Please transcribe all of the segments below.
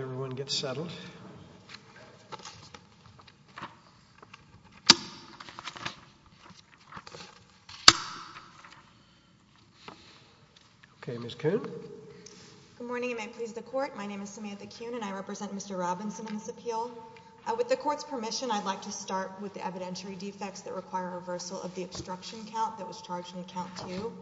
everyone gets settled. Okay, Miss Coon. Good morning. You may please the court. My name is Samantha Coon and I represent Mr Robinson in this appeal. With the court's permission, I'd like to start with the evidentiary defects that require reversal of the obstruction count that was charged in account to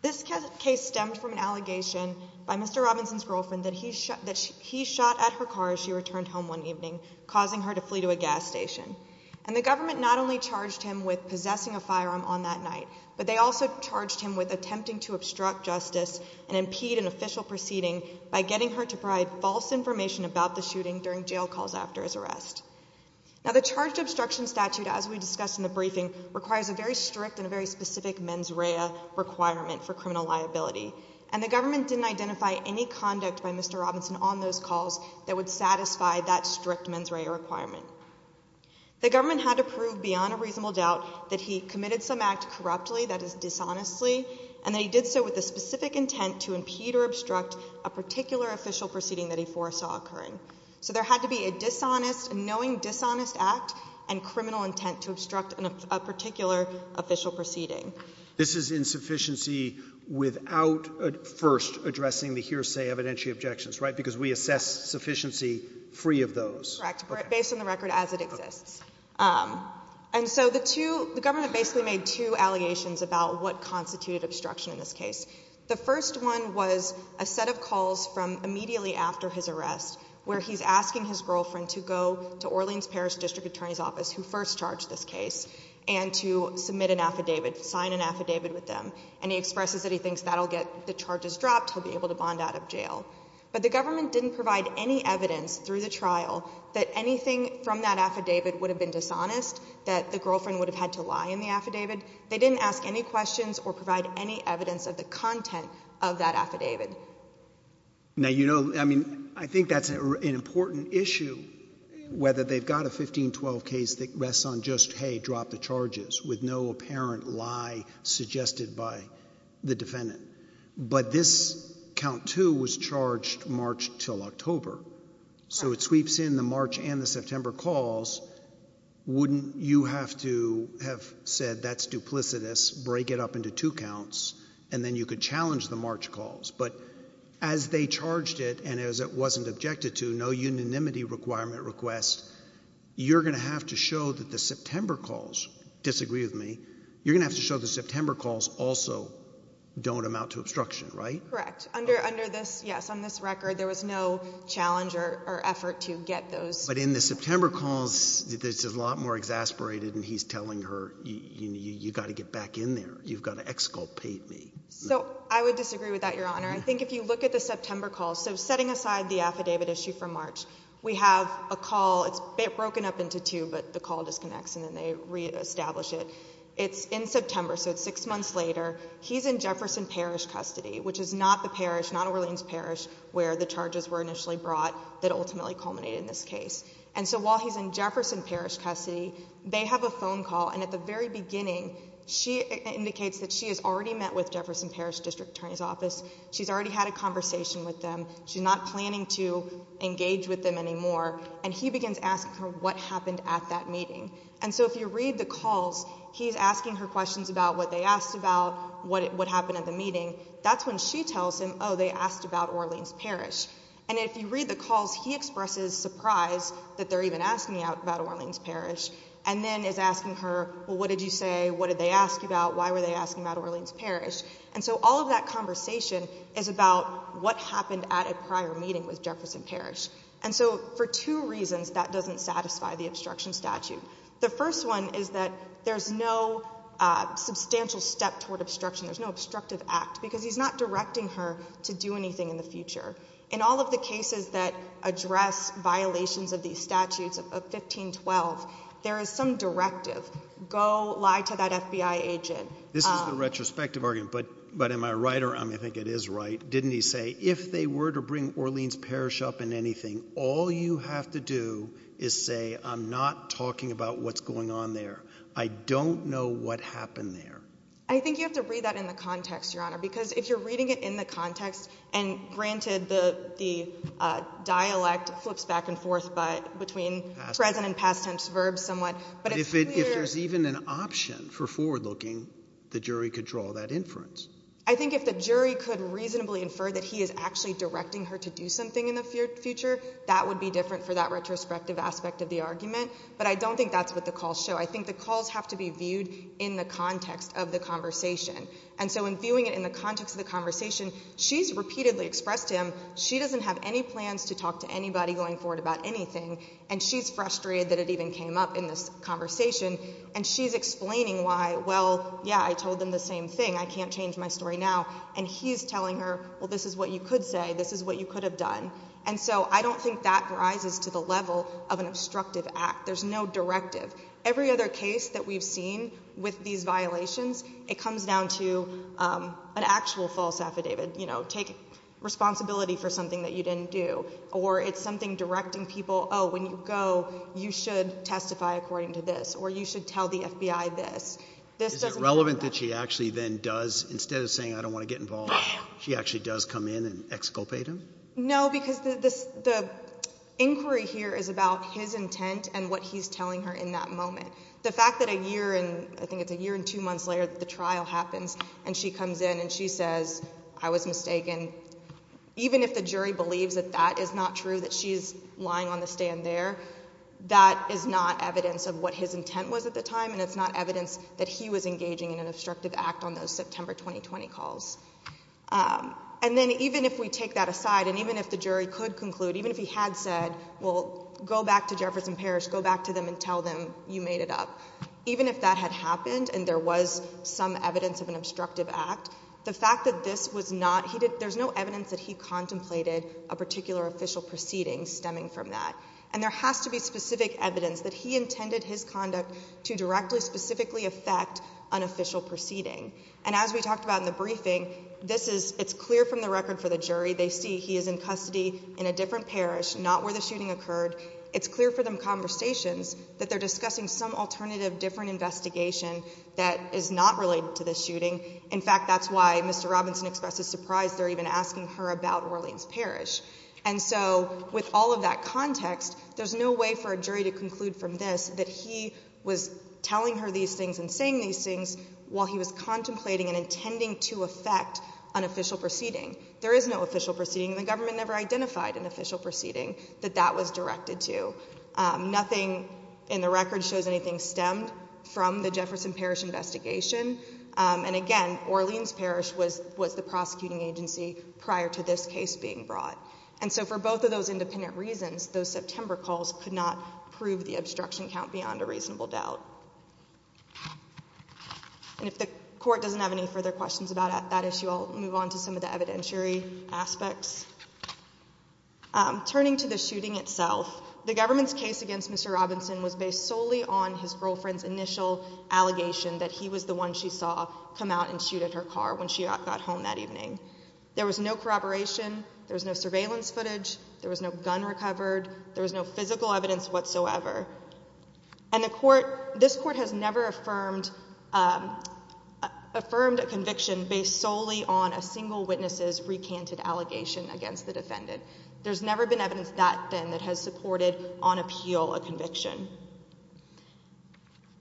this case stemmed from an allegation by Mr Robinson's girlfriend that he shot at her car as she returned home one evening, causing her to flee to a gas station. And the government not only charged him with possessing a firearm on that night, but they also charged him with attempting to obstruct justice and impede an official proceeding by getting her to provide false information about the shooting during jail calls after his arrest. Now the charged obstruction statute, as we discussed in the briefing, requires a very strict and a very specific mens rea requirement for criminal liability. And the government didn't identify any conduct by Mr Robinson on those calls that would satisfy that strict mens rea requirement. The government had to prove beyond a reasonable doubt that he committed some act corruptly, that is dishonestly, and that he did so with the specific intent to impede or obstruct a particular official proceeding that he foresaw occurring. So there had to be a dishonest, knowing dishonest act and criminal intent to obstruct a particular official proceeding. This is insufficiency without first addressing the hearsay evidentiary objections, right? Because we assess sufficiency free of those. Correct. Based on the record as it exists. And so the two, the government basically made two allegations about what constituted obstruction in this case. The first one was a set of calls from immediately after his arrest, where he's asking his girlfriend to go to Orleans-Paris District Attorney's Office, who first charged this case, and to submit an affidavit, sign an affidavit with them. And he expresses that he thinks that'll get the charges dropped, he'll be able to bond out of jail. But the government didn't provide any evidence through the trial that anything from that affidavit would have been dishonest, that the girlfriend would have had to lie in the affidavit. They didn't ask any questions or provide any evidence of the content of that affidavit. Now, you know, I mean, I think that's an important issue, whether they've got a 1512 case that rests on just, hey, drop the charges, with no apparent lie suggested by the defendant. But this count too was charged March till October. So it sweeps in the March and the September calls. Wouldn't you have to have said, that's duplicitous, break it up into two counts, and then you could challenge the March calls. But as they charged it, and as it wasn't objected to, no unanimity requirement request, you're going to have to show that the September calls, disagree with me, you're going to have to show the September calls also don't amount to obstruction, right? Correct. Under this, yes, on this record, there was no challenge or effort to get those. But in the September calls, it's a lot more exasperated, and he's telling her, you got to get back in there, you've got to exculpate me. So I would disagree with that, Your Honor. I think if you look at the September calls, so setting aside the affidavit issue from March, we have a call, it's broken up into two, but the call disconnects and then they reestablish it. It's in September, so it's six months later, he's in Jefferson Parish custody, which is not the parish, not Orleans Parish, where the charges were initially brought that ultimately culminated in this case. And so while he's in Jefferson Parish custody, they have a phone call, and at the very beginning, she indicates that she has already met with Jefferson Parish District Attorney's Office, she's already had a conversation with them, she's not planning to engage with them anymore, and he begins asking her what happened at that meeting. And so if you read the calls, he's asking her questions about what they asked about, what happened at the meeting, that's when she tells him, oh, they asked about Orleans Parish. And if you read the calls, he expresses surprise that they're even asking about Orleans Parish, and then is asking her, well, what did you say, what did they ask you about, why were they asking about Orleans Parish? And so all of that conversation is about what happened at a prior meeting with Jefferson Parish. And so for two reasons, that doesn't satisfy the obstruction statute. The first one is that there's no substantial step toward obstruction, there's no obstructive act, because he's not directing her to do anything in the future. In all of the cases that address violations of these statutes of 1512, there is some directive, go lie to that FBI agent. This is the retrospective argument, but am I right, or I think it is right, didn't he say, if they were to bring Orleans Parish up in anything, all you have to do is say, I'm not talking about what's going on there. I don't know what happened there. I think you have to read that in the context, Your Honor, because if you're reading it in the context, and granted, the dialect flips back and forth between present and past tense verbs But if there's even an option for forward looking, the jury could draw that inference. I think if the jury could reasonably infer that he is actually directing her to do something in the future, that would be different for that retrospective aspect of the argument. But I don't think that's what the calls show. I think the calls have to be viewed in the context of the conversation. And so in viewing it in the context of the conversation, she's repeatedly expressed to him, she doesn't have any plans to talk to anybody going forward about anything, and she's frustrated that it even came up in this conversation. And she's explaining why, well, yeah, I told them the same thing. I can't change my story now. And he's telling her, well, this is what you could say, this is what you could have done. And so I don't think that rises to the level of an obstructive act. There's no directive. Every other case that we've seen with these violations, it comes down to an actual false affidavit, you know, take responsibility for something that you didn't do. Or it's something directing people, oh, when you go, you should testify according to this, or you should tell the FBI this. Is it relevant that she actually then does, instead of saying I don't want to get involved, she actually does come in and exculpate him? No, because the inquiry here is about his intent and what he's telling her in that moment. The fact that a year and, I think it's a year and two months later that the trial happens, and she comes in and she says, I was mistaken. Even if the jury believes that that is not true, that she's lying on the stand there, that is not evidence of what his intent was at the time, and it's not evidence that he was engaging in an obstructive act on those September 2020 calls. And then even if we take that aside, and even if the jury could conclude, even if he had said, well, go back to Jefferson Parish, go back to them and tell them you made it up. Even if that had happened and there was some evidence of an obstructive act, the fact that this was not, there's no evidence that he contemplated a particular official proceeding stemming from that. And there has to be specific evidence that he intended his conduct to directly, specifically affect an official proceeding. And as we talked about in the briefing, this is, it's clear from the record for the jury, they see he is in custody in a different parish, not where the shooting occurred. It's clear for them conversations that they're discussing some alternative, different investigation that is not related to this shooting. In fact, that's why Mr. Robinson expressed a surprise, they're even asking her about Orleans Parish. And so with all of that context, there's no way for a jury to conclude from this, that he was telling her these things and saying these things while he was contemplating and intending to affect an official proceeding. There is no official proceeding. The government never identified an official proceeding that that was directed to. Nothing in the record shows anything stemmed from the Jefferson Parish investigation. And again, Orleans Parish was the prosecuting agency prior to this case being brought. And so for both of those independent reasons, those September calls could not prove the obstruction count beyond a reasonable doubt. And if the court doesn't have any further questions about that issue, I'll move on to some of the evidentiary aspects. Turning to the shooting itself, the government's case against Mr. Robinson was based solely on his girlfriend's initial allegation that he was the one she saw come out and shoot at her car when she got home that evening. There was no corroboration. There was no surveillance footage. There was no gun recovered. There was no physical evidence whatsoever. And this court has never affirmed a conviction based solely on a single witness's recanted allegation against the defendant. There's never been evidence that thin that has supported on appeal a conviction.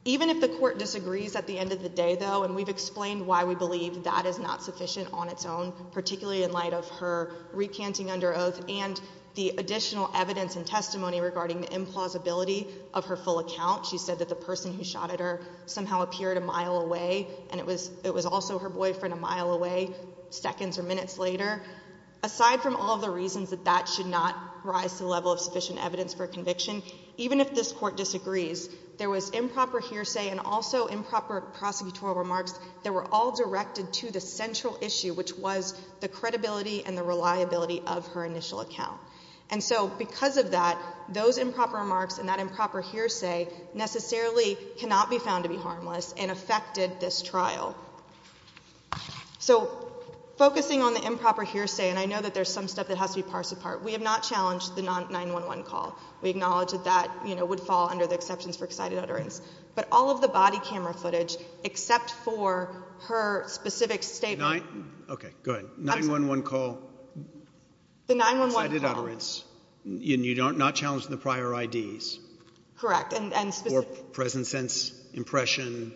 Even if the court disagrees at the end of the day, though, and we've explained why we believe that is not sufficient on its own, particularly in light of her recanting under oath and the additional evidence and testimony regarding the implausibility of her full account. She said that the person who shot at her somehow appeared a mile away, and it was also her boyfriend a mile away seconds or minutes later. Aside from all the reasons that that should not rise to the level of sufficient evidence for conviction, even if this court disagrees, there was improper hearsay and also improper prosecutorial remarks that were all directed to the central issue, which was the credibility and the reliability of her initial account. And so because of that, those improper remarks and that improper hearsay necessarily cannot be found to be harmless and affected this trial. So focusing on the improper hearsay, and I know that there's some stuff that has to be parsed apart, we have not challenged the 9-1-1 call. We acknowledge that that would fall under the exceptions for excited utterance. But all of the body camera footage, except for her specific statement... Okay, go ahead. 9-1-1 call. The 9-1-1 call. Excited utterance. And you're not challenging the prior IDs? Correct, and specific... Or present sense impression,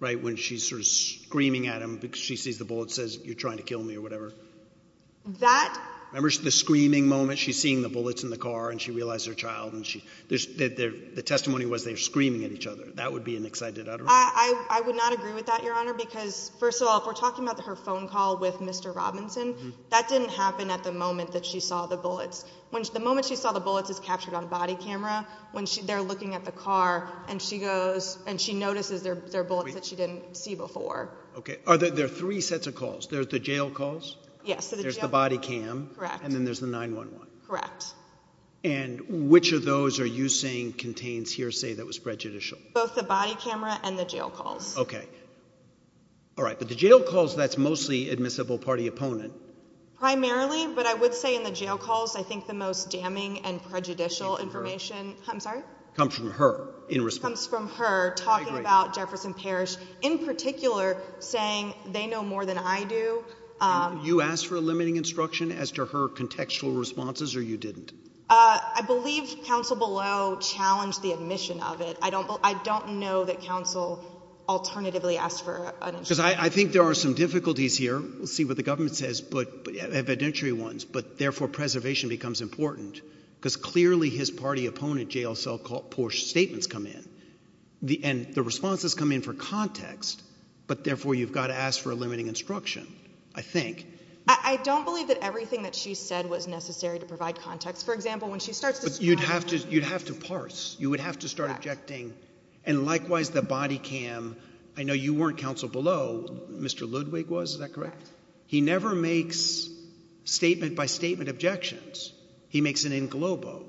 right? When she's sort of screaming at him because she sees the bullet, says, you're trying to kill me or whatever. That... Remember the screaming moment? She's seeing the bullets in the car, and she realized her child, and the testimony was they were screaming at each other. That would be an excited utterance. I would not agree with that, Your Honor, because first of all, if we're talking about her phone call with Mr. Robinson, that didn't happen at the moment that she saw the bullets. The moment she saw the bullets is captured on a body camera, when they're looking at the car, and she goes... And she notices there are bullets that she didn't see before. Okay, are there three sets of calls? There's the jail calls? Yes. There's the body cam? Correct. And then there's the 9-1-1? Correct. And which of those are you saying contains hearsay that was prejudicial? Both the body camera and the jail calls. Okay. All right, but the jail calls, that's mostly admissible party opponent. Primarily, but I would say in the jail calls, I think the most damning and prejudicial information... I'm sorry? Comes from her in response. Comes from her talking about Jefferson Parish, in particular, saying they know more than I do. You asked for a limiting instruction as to her contextual responses, or you didn't? I believe counsel below challenged the admission of it. I don't know that counsel alternatively asked for an instruction. Because I think there are some difficulties here. We'll see what the government says, evidentiary ones. But therefore, preservation becomes important. Because clearly, his party opponent, J.L. Sellport's statements come in. And the responses come in for context. But therefore, you've got to ask for a limiting instruction, I think. I don't believe that everything that she said was necessary to provide context. For example, when she starts to... You'd have to parse. You would have to start objecting. And likewise, the body cam, I know you weren't counsel below. Mr. Ludwig was, is that correct? He never makes statement-by-statement objections. He makes an in globo.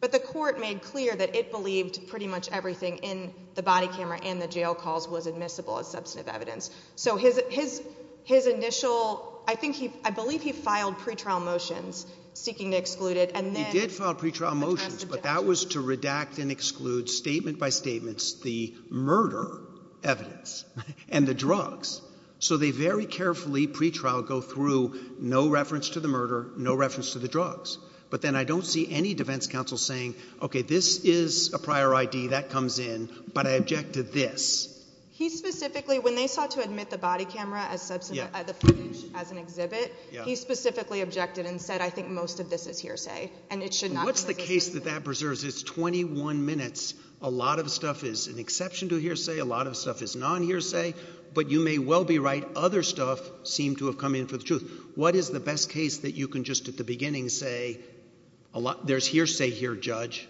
But the court made clear that it believed pretty much everything in the body camera and the jail calls was admissible as substantive evidence. So his initial... I believe he filed pretrial motions seeking to exclude it, and then... He did file pretrial motions. But that was to redact and exclude statement-by-statements, the murder evidence, and the drugs. So they very carefully, pretrial, go through, no reference to the murder, no reference to the drugs. But then I don't see any defense counsel saying, okay, this is a prior ID that comes in, but I object to this. He specifically, when they sought to admit the body camera as substantive, the footage as an exhibit, he specifically objected and said, I think most of this is hearsay. And it should not... What's the case that that preserves? It's 21 minutes. A lot of stuff is an exception to hearsay. A lot of stuff is non-hearsay. But you may well be right. Other stuff seemed to have come in for the truth. What is the best case that you can just at the beginning say, there's hearsay here, judge.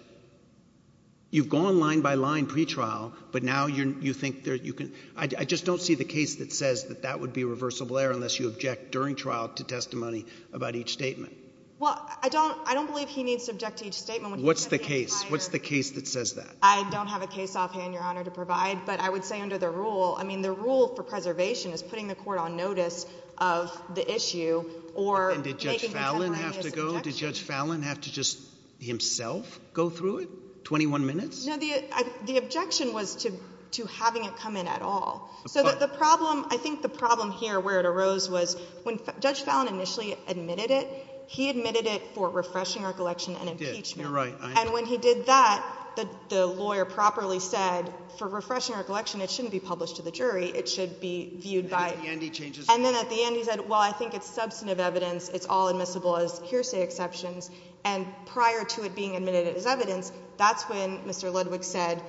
You've gone line by line pretrial, but now you think that you can... I just don't see the case that says that that would be reversible error unless you object during trial to testimony about each statement. Well, I don't believe he needs to object to each statement. What's the case? What's the case that says that? I don't have a case offhand, Your Honor, to provide. But I would say under the rule, I mean, the rule for preservation is putting the court on notice of the issue or... And did Judge Fallon have to go? Did Judge Fallon have to just himself go through it? 21 minutes? No, the objection was to having it come in at all. So the problem, I think the problem here where it arose was when Judge Fallon initially admitted it, he admitted it for refreshing recollection and impeachment. And when he did that, the lawyer properly said for refreshing recollection, it shouldn't be published to the jury. It should be viewed by... And at the end, he changes... And then at the end, he said, well, I think it's substantive evidence. It's all admissible as hearsay exceptions. And prior to it being admitted as evidence, that's when Mr. Ludwig said,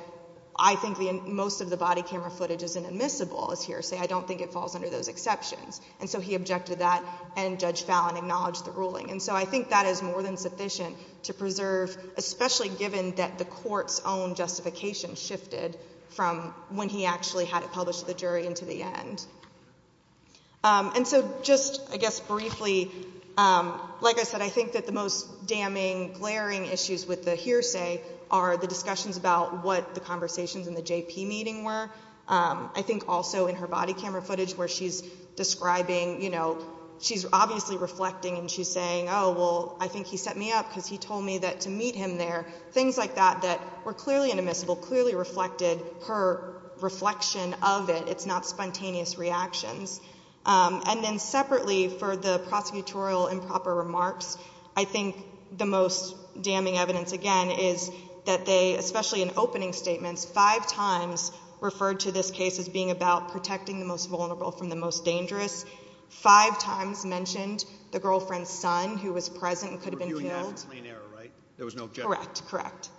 I think most of the body camera footage is inadmissible as hearsay. I don't think it falls under those exceptions. And so he objected to that and Judge Fallon acknowledged the ruling. And so I think that is more than sufficient to preserve, especially given that the court's own justification shifted from when he actually had it published to the jury and to the end. And so just, I guess, briefly, like I said, I think that the most damning, glaring issues with the hearsay are the discussions about what the conversations in the JP meeting were. I think also in her body camera footage where she's describing, you know, she's obviously reflecting and she's saying, well, I think he set me up because he told me that to meet him there, things like that, that were clearly inadmissible, clearly reflected her reflection of it. It's not spontaneous reactions. And then separately for the prosecutorial improper remarks, I think the most damning evidence, again, is that they, especially in opening statements, five times referred to this case as being about protecting the most vulnerable from the most dangerous. Five times mentioned the girlfriend's son, who was present and could have been killed. There was no objection. Correct, correct.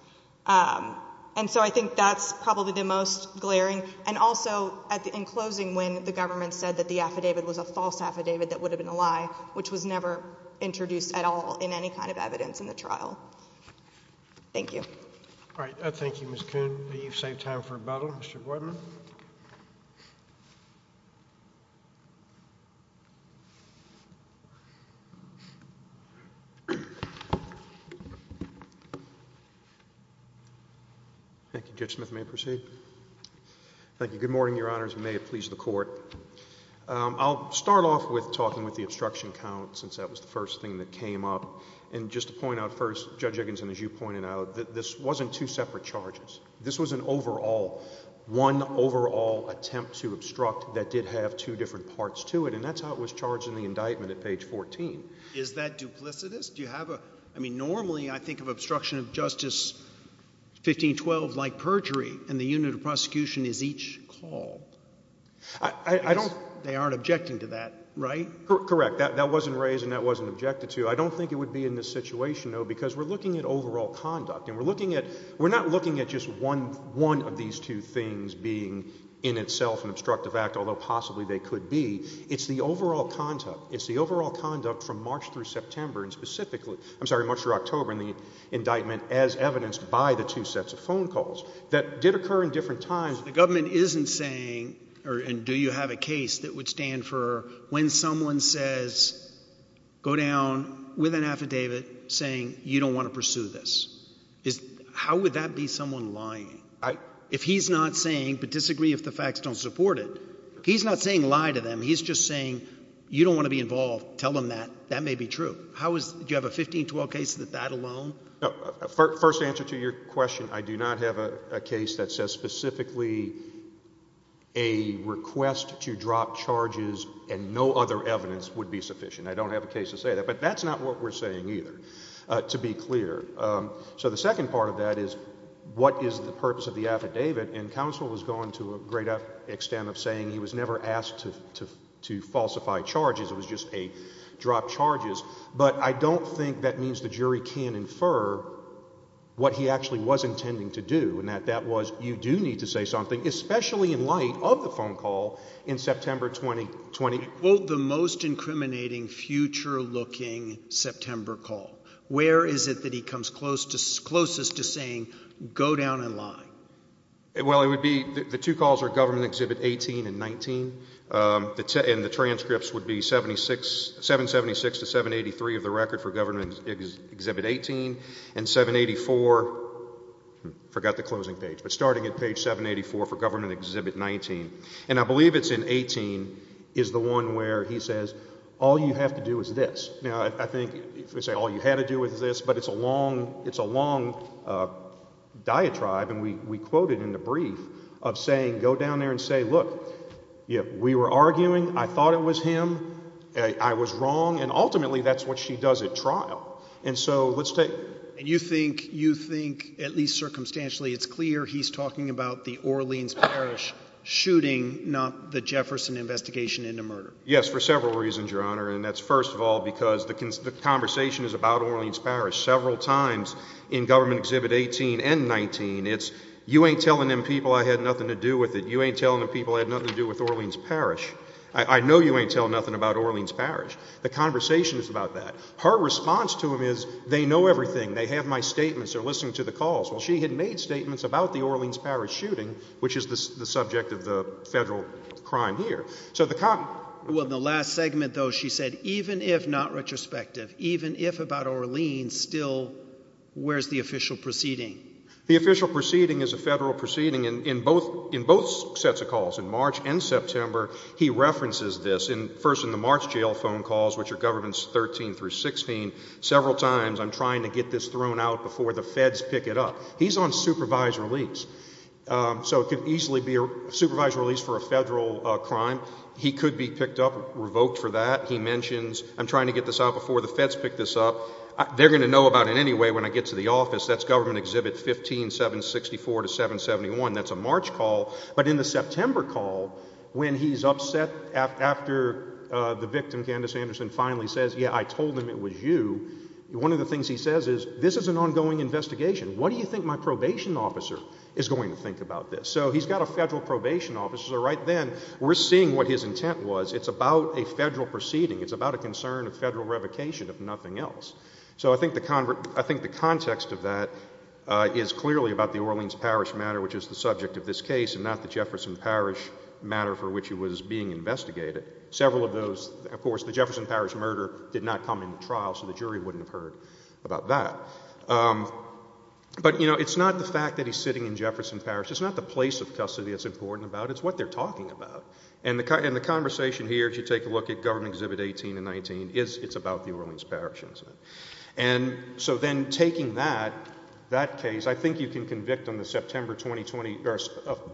And so I think that's probably the most glaring. And also in closing, when the government said that the affidavit was a false affidavit that would have been a lie, which was never introduced at all in any kind of evidence in the trial. Thank you. All right. Thank you, Ms. Kuhn. You've saved time for rebuttal, Mr. Boyden. Thank you, Judge Smith. May I proceed? Thank you. Good morning, Your Honors. May it please the Court. I'll start off with talking with the obstruction count, since that was the first thing that came up. And just to point out first, Judge Egginson, as you pointed out, this wasn't two separate charges. This was an overall, one overall attempt to obstruct that did have two different parts to it. And that's how it was charged in the indictment at page 14. Is that duplicitous? I mean, normally I think of obstruction of justice 1512 like perjury, and the unit of prosecution is each called. They aren't objecting to that, right? Correct. That wasn't raised, and that wasn't objected to. I don't think it would be in this situation, though, because we're looking at overall conduct. And we're not looking at just one of these two things being in itself an obstructive act, although possibly they could be. It's the overall conduct. It's the overall conduct from March through September, and specifically, I'm sorry, March through October in the indictment, as evidenced by the two sets of phone calls that did occur in different times. The government isn't saying, and do you have a case that would stand for when someone says, go down with an affidavit saying you don't want to pursue this? How would that be someone lying? If he's not saying, but disagree if the facts don't support it, he's not saying lie to them. He's just saying, you don't want to be involved. Tell them that. That may be true. Do you have a 1512 case that that alone? First answer to your question, I do not have a case that says specifically a request to drop charges and no other evidence would be sufficient. I don't have a case to say that. But that's not what we're saying either, to be clear. So the second part of that is, what is the purpose of the affidavit? And counsel was going to a great extent of saying he was never asked to falsify charges. It was just a drop charges. But I don't think that means the jury can infer what he actually was intending to do. And that was, you do need to say something, especially in light of the phone call in September 2020. Well, the most incriminating future looking September call. Where is it that he comes closest to saying, go down and lie? Well, it would be the two calls are government exhibit 18 and 19. And the transcripts would be 776 to 783 of the record for government exhibit 18 and 784. Forgot the closing page, but starting at page 784 for government exhibit 19. And I believe it's in 18 is the one where he says, all you have to do is this. Now, I think if we say all you had to do with this, but it's a long. It's a long diatribe. And we quoted in the brief of saying, go down there and say, look, we were arguing. I thought it was him. I was wrong. And ultimately, that's what she does at trial. And so let's take and you think you think at least circumstantially, it's clear he's talking about the Orleans Parish shooting, not the Jefferson investigation into murder. Yes, for several reasons, your honor. And that's first of all, because the conversation is about Orleans Parish several times in government exhibit 18 and 19. It's you ain't telling them people I had nothing to do with it. You ain't telling the people I had nothing to do with Orleans Parish. I know you ain't tell nothing about Orleans Parish. The conversation is about that. Her response to him is they know everything. They have my statements. They're listening to the calls. Well, she had made statements about the Orleans Parish shooting, which is the subject of the federal crime here. So the. Well, the last segment, though, she said, even if not retrospective, even if about Orleans still, where's the official proceeding? The official proceeding is a federal proceeding in both in both sets of calls in March and September. He references this in first in the March jail phone calls, which are governments 13 through 16. Several times I'm trying to get this thrown out before the feds pick it up. He's on supervised release. So it could easily be a supervised release for a federal crime. He could be picked up, revoked for that. He mentions I'm trying to get this out before the feds pick this up. They're going to know about it anyway. When I get to the office, that's government exhibit 15 764 to 771. That's a March call. But in the September call, when he's upset after the victim, Candace Anderson finally says, yeah, I told him it was you. One of the things he says is this is an ongoing investigation. What do you think my probation officer is going to think about this? So he's got a federal probation officer right then. We're seeing what his intent was. It's about a federal proceeding. It's about a concern of federal revocation, if nothing else. So I think the I think the context of that is clearly about the Orleans Parish matter, which is the subject of this case, and not the Jefferson Parish matter for which it was being investigated. Several of those, of course, the Jefferson Parish murder did not come into trial. So the jury wouldn't have heard about that. But it's not the fact that he's sitting in Jefferson Parish. It's not the place of custody it's important about. It's what they're talking about. And the conversation here, if you take a look at government exhibit 18 and 19, it's about the Orleans Parish incident. And so then taking that case, I think you can convict on the September 2020 or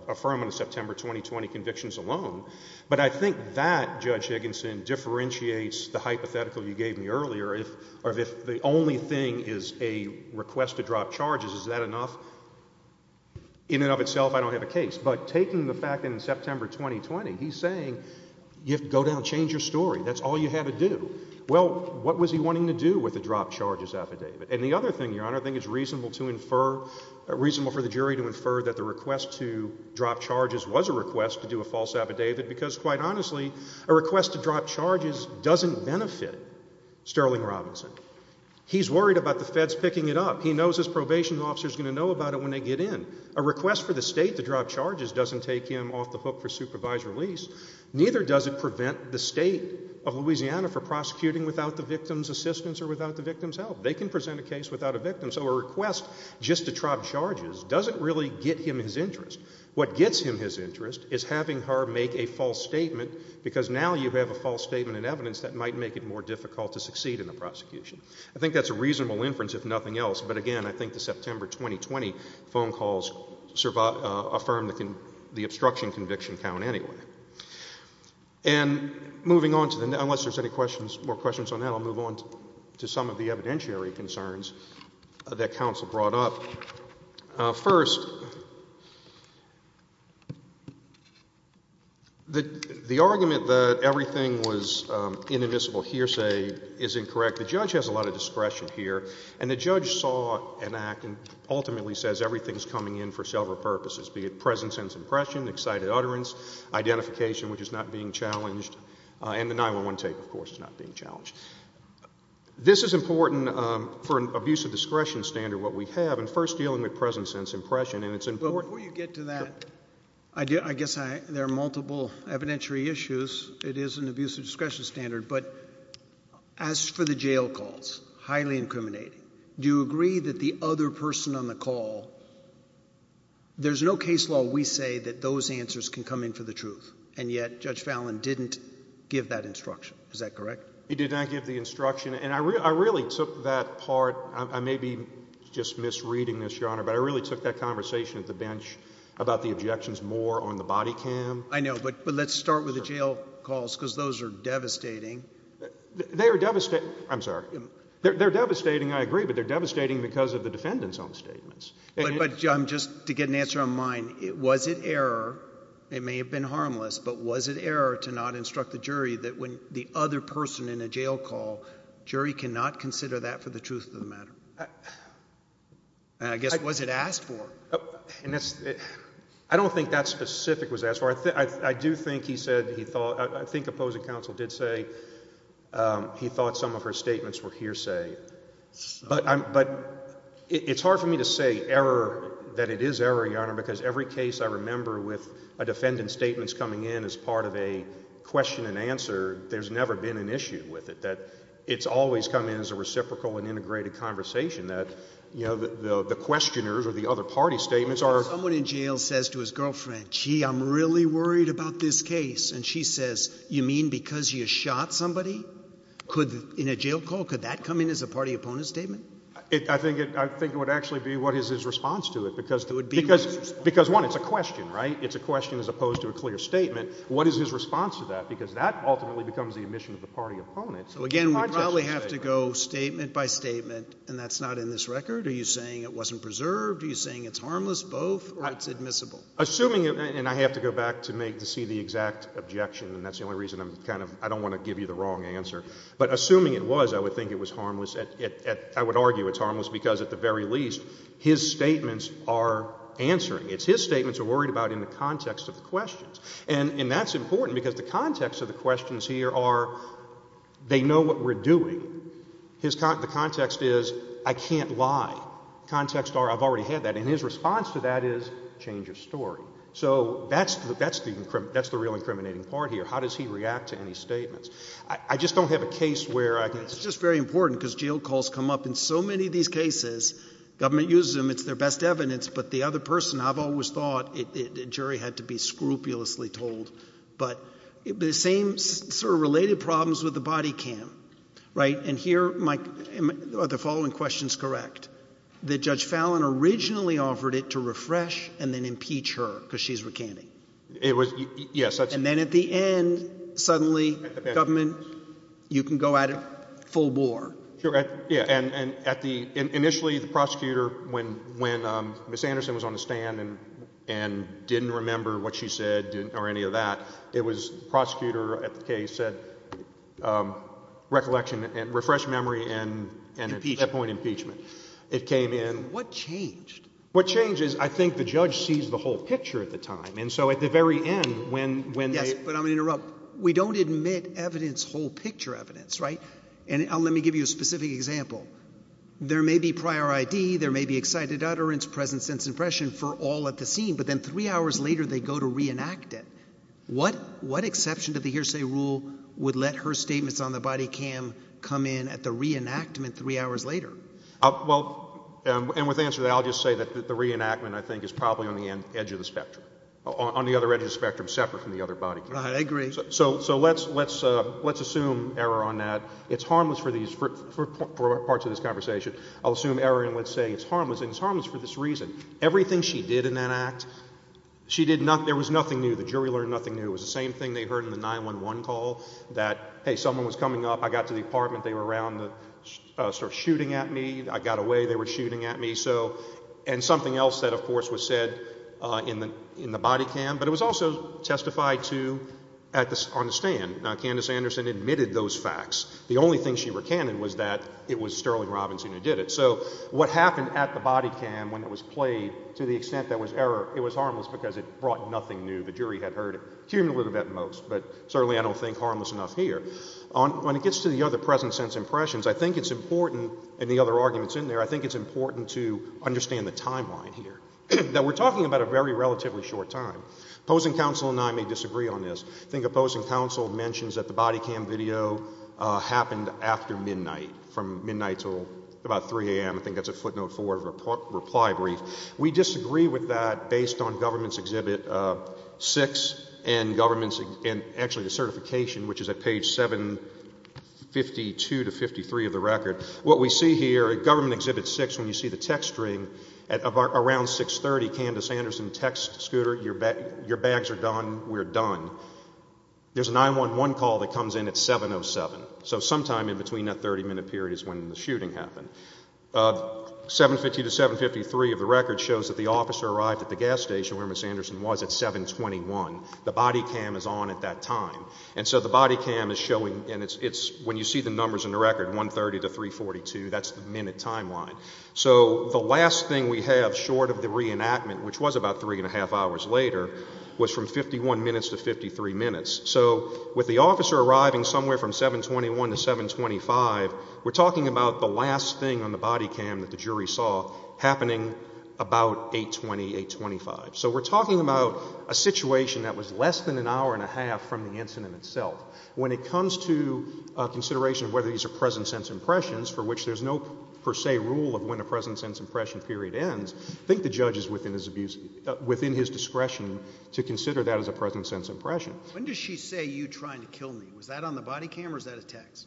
affirm on the September 2020 convictions alone. But I think that, Judge Higginson, differentiates the hypothetical you gave me earlier of if the only thing is a request to drop charges, is that enough? In and of itself, I don't have a case. But taking the fact in September 2020, he's saying, you have to go down and change your story. That's all you have to do. Well, what was he wanting to do with the drop charges affidavit? And the other thing, Your Honor, I think it's reasonable to infer, reasonable for the jury to infer that the request to drop charges was a request to do a false affidavit, because quite honestly, a request to drop charges doesn't benefit Sterling Robinson. He's worried about the feds picking it up. He knows his probation officer is going to know about it when they get in. A request for the state to drop charges doesn't take him off the hook for supervised release. Neither does it prevent the state of Louisiana for prosecuting without the victim's assistance or without the victim's help. They can present a case without a victim. So a request just to drop charges doesn't really get him his interest. What gets him his interest is having her make a false statement, because now you have a false statement and evidence that might make it more difficult to succeed in the prosecution. I think that's a reasonable inference, if nothing else. But again, I think the September 2020 phone calls affirmed the obstruction conviction count anyway. And moving on to the next, unless there's any questions, more questions on that, I'll move on to some of the evidentiary concerns that counsel brought up. First, the argument that everything was inadmissible hearsay is incorrect. The judge has a lot of discretion here. And the judge saw an act and ultimately says everything's coming in for several purposes, be it present sense impression, excited utterance, identification, which is not being challenged, and the 9-1-1 tape, of course, is not being challenged. This is important for an abuse of discretion standard, what we have, and first dealing with present sense impression. And it's important— Before you get to that, I guess there are multiple evidentiary issues. It is an abuse of discretion standard. But as for the jail calls, highly incriminating, do you agree that the other person on the call—there's no case law we say that those answers can come in for the truth, and yet Judge Fallin didn't give that instruction. Is that correct? He did not give the instruction. And I really took that part—I may be just misreading this, Your Honor, but I really took that conversation at the bench about the objections more on the body cam. I know, but let's start with the jail calls, because those are devastating. They are—I'm sorry. They're devastating, I agree, but they're devastating because of the defendant's own statements. But just to get an answer on mine, was it error—it may have been harmless—but was it error to not instruct the jury that when the other person in a jail call, jury cannot consider that for the truth of the matter? And I guess, was it asked for? I don't think that specific was asked for. I do think he said he thought—I think opposing counsel did say he thought some of her statements were hearsay. But it's hard for me to say error, that it is error, Your Honor, because every case I remember with a defendant's statements coming in as part of a question and answer, there's never been an issue with it. That it's always come in as a reciprocal and integrated conversation, that the questioners or the other party's statements are— Someone in jail says to his girlfriend, gee, I'm really worried about this case. And she says, you mean because you shot somebody? Could—in a jail call, could that come in as a party-opponent statement? I think it would actually be what is his response to it because— It would be— Because one, it's a question, right? It's a question as opposed to a clear statement. What is his response to that? Because that ultimately becomes the admission of the party opponent. So again, we probably have to go statement by statement, and that's not in this record. Are you saying it wasn't preserved? Are you saying it's harmless? Both or it's admissible? Assuming—and I have to go back to see the exact objection, and that's the only reason I'm kind of—I don't want to give you the wrong answer. But assuming it was, I would think it was harmless. I would argue it's harmless because at the very least, his statements are answering. It's his statements are worried about in the context of the questions. And that's important because the context of the questions here are they know what we're doing. The context is I can't lie. The context are I've already had that. And his response to that is change of story. So that's the real incriminating part here. How does he react to any statements? I just don't have a case where I can— It's just very important because jail calls come up in so many of these cases. Government uses them. It's their best evidence. But the other person, I've always thought the jury had to be scrupulously told. But the same sort of related problems with the body cam, right? And here, Mike, are the following questions correct? That Judge Fallon originally offered it to refresh and then impeach her because she's recanting. And then at the end, suddenly, government, you can go at it full bore. Sure, yeah. And initially, the prosecutor, when Ms. Anderson was on the stand and didn't remember what the case said, recollection, refreshed memory, and at that point, impeachment. It came in— What changed? What changed is I think the judge sees the whole picture at the time. And so at the very end, when they— Yes, but I'm going to interrupt. We don't admit evidence, whole picture evidence, right? And let me give you a specific example. There may be prior ID. There may be excited utterance, present sense impression for all at the scene. But then three hours later, they go to reenact it. What exception to the hearsay rule would let her statements on the body cam come in at the reenactment three hours later? Well, and with answer to that, I'll just say that the reenactment, I think, is probably on the edge of the spectrum, on the other edge of the spectrum, separate from the other body cam. Right, I agree. So let's assume error on that. It's harmless for these—for parts of this conversation. I'll assume error and let's say it's harmless, and it's harmless for this reason. Everything she did in that act, she did not—there was nothing new. The jury learned nothing new. It was the same thing they heard in the 911 call that, hey, someone was coming up. I got to the apartment. They were around, sort of shooting at me. I got away. They were shooting at me. So—and something else that, of course, was said in the body cam, but it was also testified to on the stand. Candace Anderson admitted those facts. The only thing she recanted was that it was Sterling Robinson who did it. So what happened at the body cam when it was played, to the extent there was error, it was harmless because it brought nothing new. The jury had heard it cumulatively at most, but certainly I don't think harmless enough here. When it gets to the other present-sense impressions, I think it's important—and the other arguments in there—I think it's important to understand the timeline here, that we're talking about a very relatively short time. Opposing counsel and I may disagree on this. I think opposing counsel mentions that the body cam video happened after midnight, from midnight till about 3 a.m. I think that's a footnote for a reply brief. We disagree with that based on Government's Exhibit 6 and Government's—and actually the certification, which is at page 752 to 753 of the record. What we see here at Government Exhibit 6, when you see the text string, around 6.30, Candace Anderson texts Scooter, your bags are done, we're done. There's an I-11 call that comes in at 7.07, so sometime in between that 30-minute period is when the shooting happened. 7.50 to 7.53 of the record shows that the officer arrived at the gas station where Ms. Anderson was at 7.21. The body cam is on at that time. And so the body cam is showing—and it's when you see the numbers in the record, 1.30 to 3.42, that's the minute timeline. So the last thing we have short of the reenactment, which was about three and a half hours later, was from 51 minutes to 53 minutes. So with the officer arriving somewhere from 7.21 to 7.25, we're talking about the last thing on the body cam that the jury saw happening about 8.20, 8.25. So we're talking about a situation that was less than an hour and a half from the incident itself. When it comes to consideration of whether these are present-sense impressions, for which there's no per se rule of when a present-sense impression period ends, I think the judge is within his discretion to consider that as a present-sense impression. When does she say, you trying to kill me? Was that on the body cam or is that a text?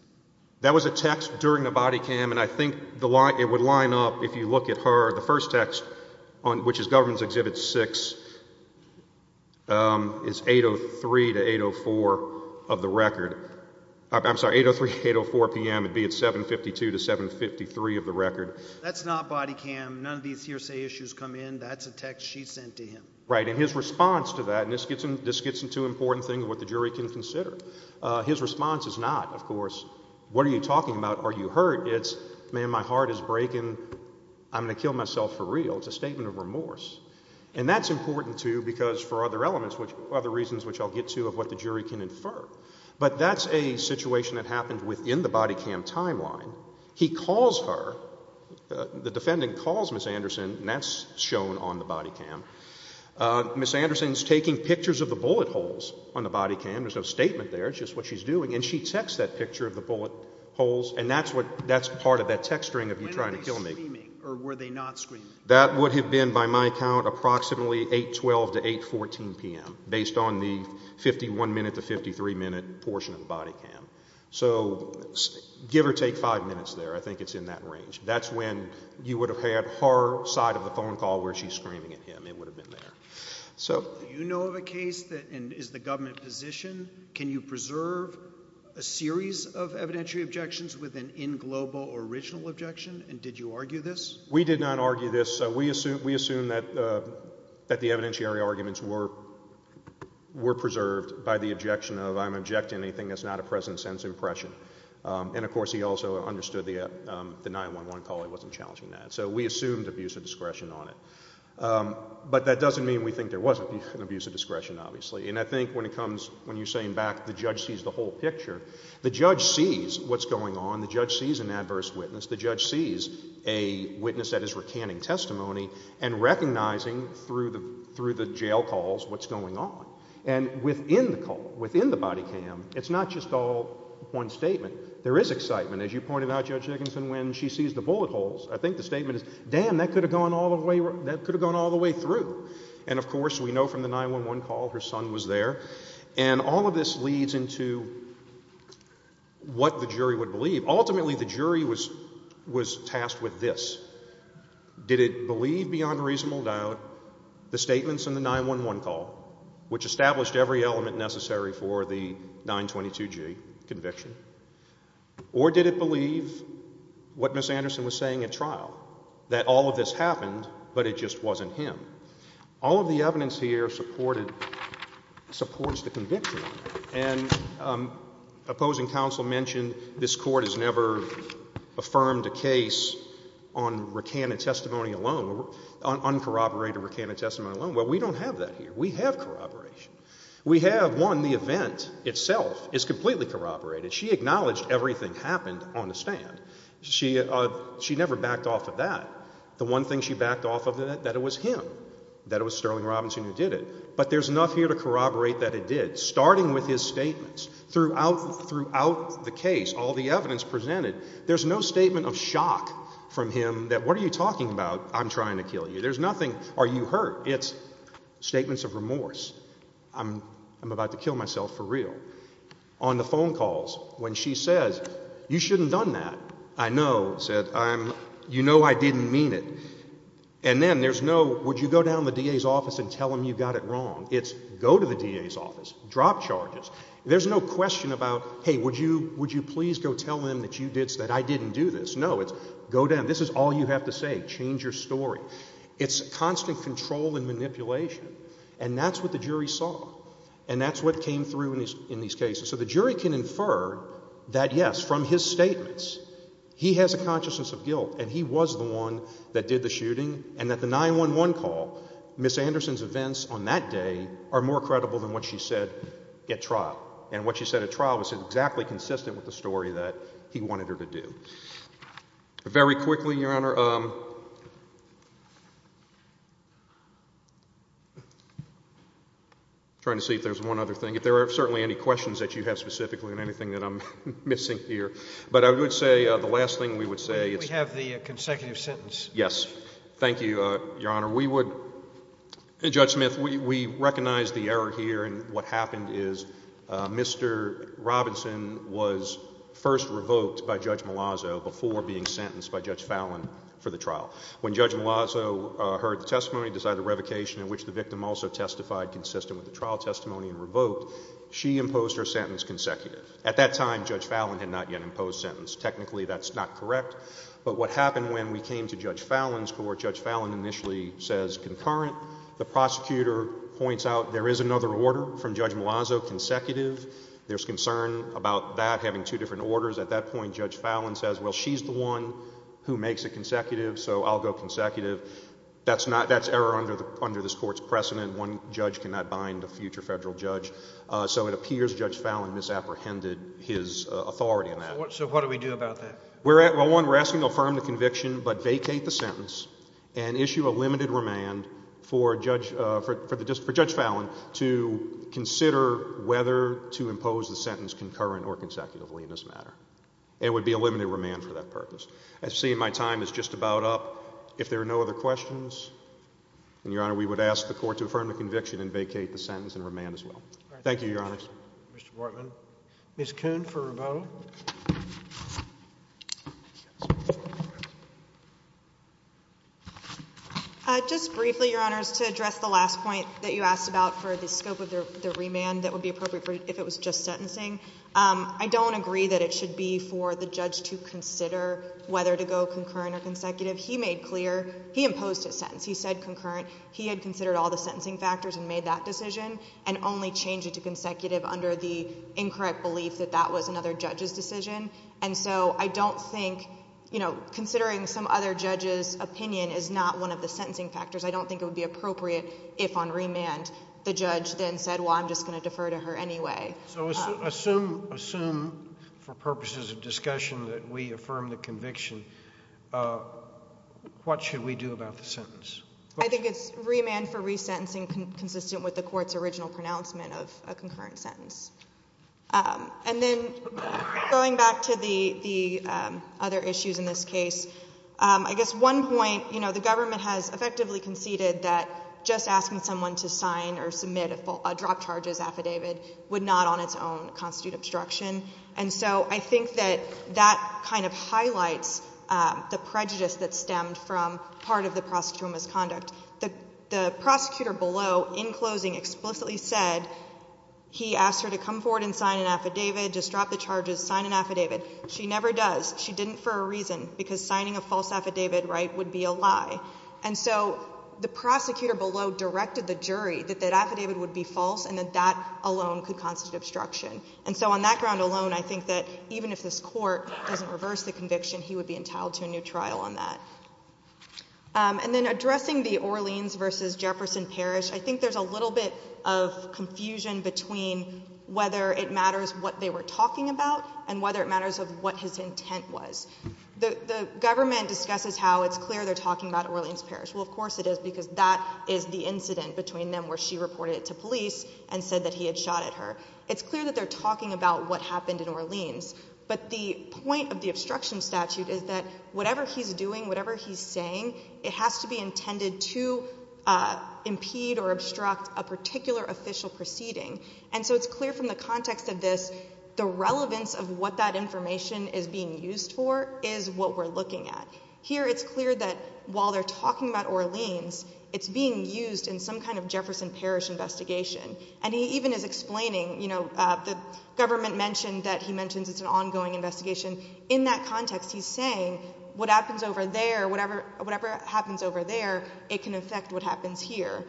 That was a text during the body cam, and I think it would line up, if you look at her, the first text, which is Government's Exhibit 6, is 8.03 to 8.04 of the record. I'm sorry, 8.03 to 8.04 p.m. It'd be at 7.52 to 7.53 of the record. That's not body cam. None of these hearsay issues come in. That's a text she sent to him. Right. His response to that, and this gets into an important thing of what the jury can consider. His response is not, of course, what are you talking about? Are you hurt? It's, man, my heart is breaking. I'm going to kill myself for real. It's a statement of remorse. And that's important, too, because for other elements, other reasons which I'll get to of what the jury can infer. But that's a situation that happened within the body cam timeline. He calls her. The defendant calls Ms. Anderson, and that's shown on the body cam. Ms. Anderson's taking pictures of the bullet holes on the body cam. There's no statement there. It's just what she's doing. And she texts that picture of the bullet holes, and that's part of that text string of you trying to kill me. When were they screaming, or were they not screaming? That would have been, by my count, approximately 8.12 to 8.14 p.m., based on the 51-minute to 53-minute portion of the body cam. So give or take five minutes there. I think it's in that range. That's when you would have had her side of the phone call where she's screaming at him. It would have been there. So you know of a case that is the government position. Can you preserve a series of evidentiary objections with an in-global or original objection? And did you argue this? We did not argue this. We assume that the evidentiary arguments were preserved by the objection of, I'm objecting to anything that's not a present-sense impression. And of course, he also understood the 911 call. He wasn't challenging that. So we assumed abuse of discretion on it. But that doesn't mean we think there was an abuse of discretion, obviously. And I think when it comes, when you're saying back, the judge sees the whole picture, the judge sees what's going on. The judge sees an adverse witness. The judge sees a witness that is recanting testimony and recognizing through the jail calls what's going on. And within the call, within the body cam, it's not just all one statement. There is excitement. As you pointed out, Judge Dickinson, when she sees the bullet holes, I think the statement is, damn, that could have gone all the way through. And of course, we know from the 911 call her son was there. And all of this leads into what the jury would believe. Ultimately, the jury was tasked with this. Did it believe beyond reasonable doubt the statements in the 911 call, which established every element necessary for the 922g conviction? Or did it believe what Ms. Anderson was saying at trial, that all of this happened, but it just wasn't him? All of the evidence here supported, supports the conviction. And opposing counsel mentioned this court has never affirmed a case on recanted testimony alone, on uncorroborated recanted testimony alone. Well, we don't have that here. We have corroboration. We have, one, the event itself is completely corroborated. She acknowledged everything happened on the stand. She never backed off of that. The one thing she backed off of that, that it was him, that it was Sterling Robinson who did it. But there's enough here to corroborate that it did. Starting with his statements, throughout the case, all the evidence presented, there's no statement of shock from him that, what are you talking about? I'm trying to kill you. There's nothing, are you hurt? It's statements of remorse. I'm about to kill myself for real. On the phone calls, when she says, you shouldn't have done that, I know, said, I'm, you know I didn't mean it. And then there's no, would you go down to the DA's office and tell him you got it wrong. It's, go to the DA's office, drop charges. There's no question about, hey, would you, would you please go tell him that you did, that I didn't do this. No, it's, go down, this is all you have to say, change your story. It's constant control and manipulation. And that's what the jury saw. And that's what came through in these cases. So the jury can infer that, yes, from his statements, he has a consciousness of guilt and he was the one that did the shooting and that the 911 call, Ms. Anderson's events on that day are more credible than what she said at trial. And what she said at trial was exactly consistent with the story that he wanted her to do. Very quickly, Your Honor. Trying to see if there's one other thing. If there are certainly any questions that you have specifically on anything that I'm missing here. But I would say the last thing we would say. We have the consecutive sentence. Yes. Thank you, Your Honor. We would, Judge Smith, we recognize the error here and what happened is Mr. Robinson was first revoked by Judge Malazzo before being sentenced by Judge Fallon for the trial. When Judge Malazzo heard the testimony, decided the revocation in which the victim also testified consistent with the trial testimony and revoked, she imposed her sentence consecutive. At that time, Judge Fallon had not yet imposed sentence. Technically, that's not correct. But what happened when we came to Judge Fallon's court, Judge Fallon initially says concurrent. The prosecutor points out there is another order from Judge Malazzo consecutive. There's concern about that having two different orders. At that point, Judge Fallon says, well, she's the one who makes it consecutive, so I'll go consecutive. That's error under this court's precedent. One judge cannot bind a future federal judge. So it appears Judge Fallon misapprehended his authority in that. So what do we do about that? Well, one, we're asking to affirm the conviction but vacate the sentence and issue a limited to impose the sentence concurrent or consecutively in this matter. It would be a limited remand for that purpose. I see my time is just about up. If there are no other questions, then, Your Honor, we would ask the court to affirm the conviction and vacate the sentence and remand as well. Thank you, Your Honors. Mr. Portman. Ms. Kuhn for rebuttal. Just briefly, Your Honors, to address the last point that you asked about for the scope of the remand that would be appropriate for if it was just sentencing, I don't agree that it should be for the judge to consider whether to go concurrent or consecutive. He made clear, he imposed his sentence. He said concurrent. He had considered all the sentencing factors and made that decision and only changed it to consecutive under the incorrect belief that that was another judge's decision. And so I don't think, you know, considering some other judge's opinion is not one of the I'm just going to defer to her anyway. So assume for purposes of discussion that we affirm the conviction. What should we do about the sentence? I think it's remand for resentencing consistent with the court's original pronouncement of a concurrent sentence. And then going back to the other issues in this case, I guess one point, you know, the drop charges affidavit would not on its own constitute obstruction. And so I think that that kind of highlights the prejudice that stemmed from part of the prosecutor misconduct. The prosecutor below in closing explicitly said he asked her to come forward and sign an affidavit, just drop the charges, sign an affidavit. She never does. She didn't for a reason because signing a false affidavit, right, would be a lie. And so the prosecutor below directed the jury that that affidavit would be false and that that alone could constitute obstruction. And so on that ground alone, I think that even if this court doesn't reverse the conviction, he would be entitled to a new trial on that. And then addressing the Orleans versus Jefferson Parish, I think there's a little bit of confusion between whether it matters what they were talking about and whether it matters of what his intent was. The government discusses how it's clear they're talking about Orleans Parish. Well, of course it is because that is the incident between them where she reported it to police and said that he had shot at her. It's clear that they're talking about what happened in Orleans. But the point of the obstruction statute is that whatever he's doing, whatever he's saying, it has to be intended to impede or obstruct a particular official proceeding. And so it's clear from the context of this, the relevance of what that information is being used for is what we're looking at here. It's clear that while they're talking about Orleans, it's being used in some kind of Jefferson Parish investigation. And he even is explaining, you know, the government mentioned that he mentions it's an ongoing investigation in that context. He's saying what happens over there, whatever whatever happens over there, it can affect what happens here.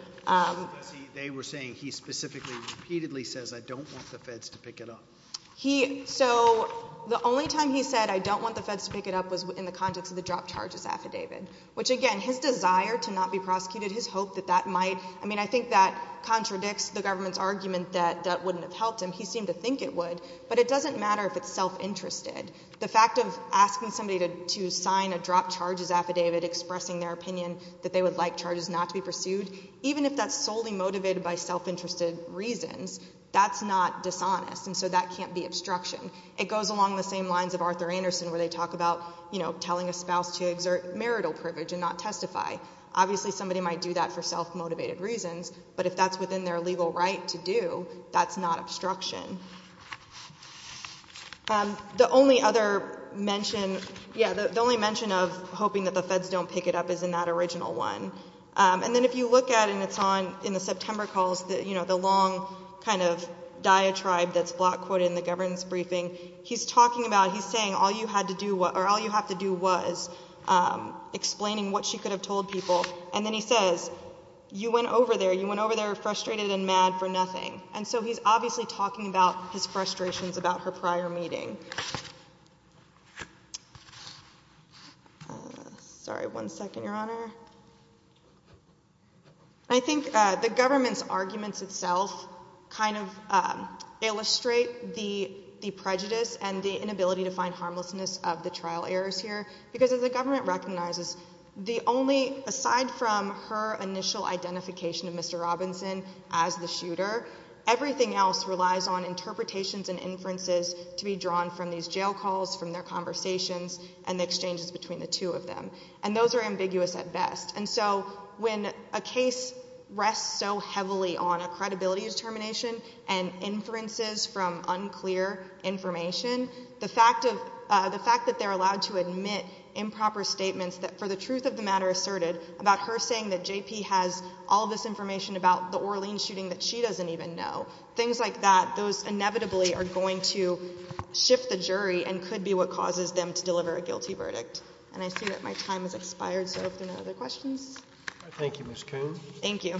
They were saying he specifically repeatedly says, I don't want the feds to pick it up. So the only time he said, I don't want the feds to pick it up was in the context of the drop charges affidavit, which again, his desire to not be prosecuted, his hope that that might, I mean, I think that contradicts the government's argument that that wouldn't have helped him. He seemed to think it would, but it doesn't matter if it's self-interested. The fact of asking somebody to sign a drop charges affidavit expressing their opinion that they would like charges not to be pursued, even if that's solely motivated by self-interested reasons, that's not dishonest. And so that can't be obstruction. It goes along the same lines of Arthur Anderson, where they talk about, you know, telling a spouse to exert marital privilege and not testify. Obviously somebody might do that for self-motivated reasons, but if that's within their legal right to do, that's not obstruction. The only other mention, yeah, the only mention of hoping that the feds don't pick it up is in that original one. And then if you look at, and it's on in the September calls that, you know, the long kind of diatribe that's block quoted in the governance briefing, he's talking about, he's saying all you had to do, or all you have to do was explaining what she could have told people. And then he says, you went over there, you went over there frustrated and mad for nothing. And so he's obviously talking about his frustrations about her prior meeting. Sorry, one second, Your Honor. I think the government's arguments itself kind of illustrate the prejudice and the inability to find harmlessness of the trial errors here. Because as the government recognizes, the only, aside from her initial identification of Mr. Robinson as the shooter, everything else relies on interpretations and inferences to be drawn from these jail calls, from their conversations, and the exchanges between the two of them. And those are ambiguous at best. And so when a case rests so heavily on a credibility determination and inferences from unclear information, the fact of, the fact that they're allowed to admit improper statements that for the truth of the matter asserted about her saying that JP has all this information about the Orleans shooting that she doesn't even know, things like that, those inevitably are going to shift the jury and could be what causes them to deliver a guilty verdict. And I see that my time has expired, so if there are no other questions. All right, thank you, Ms. Coon. Thank you.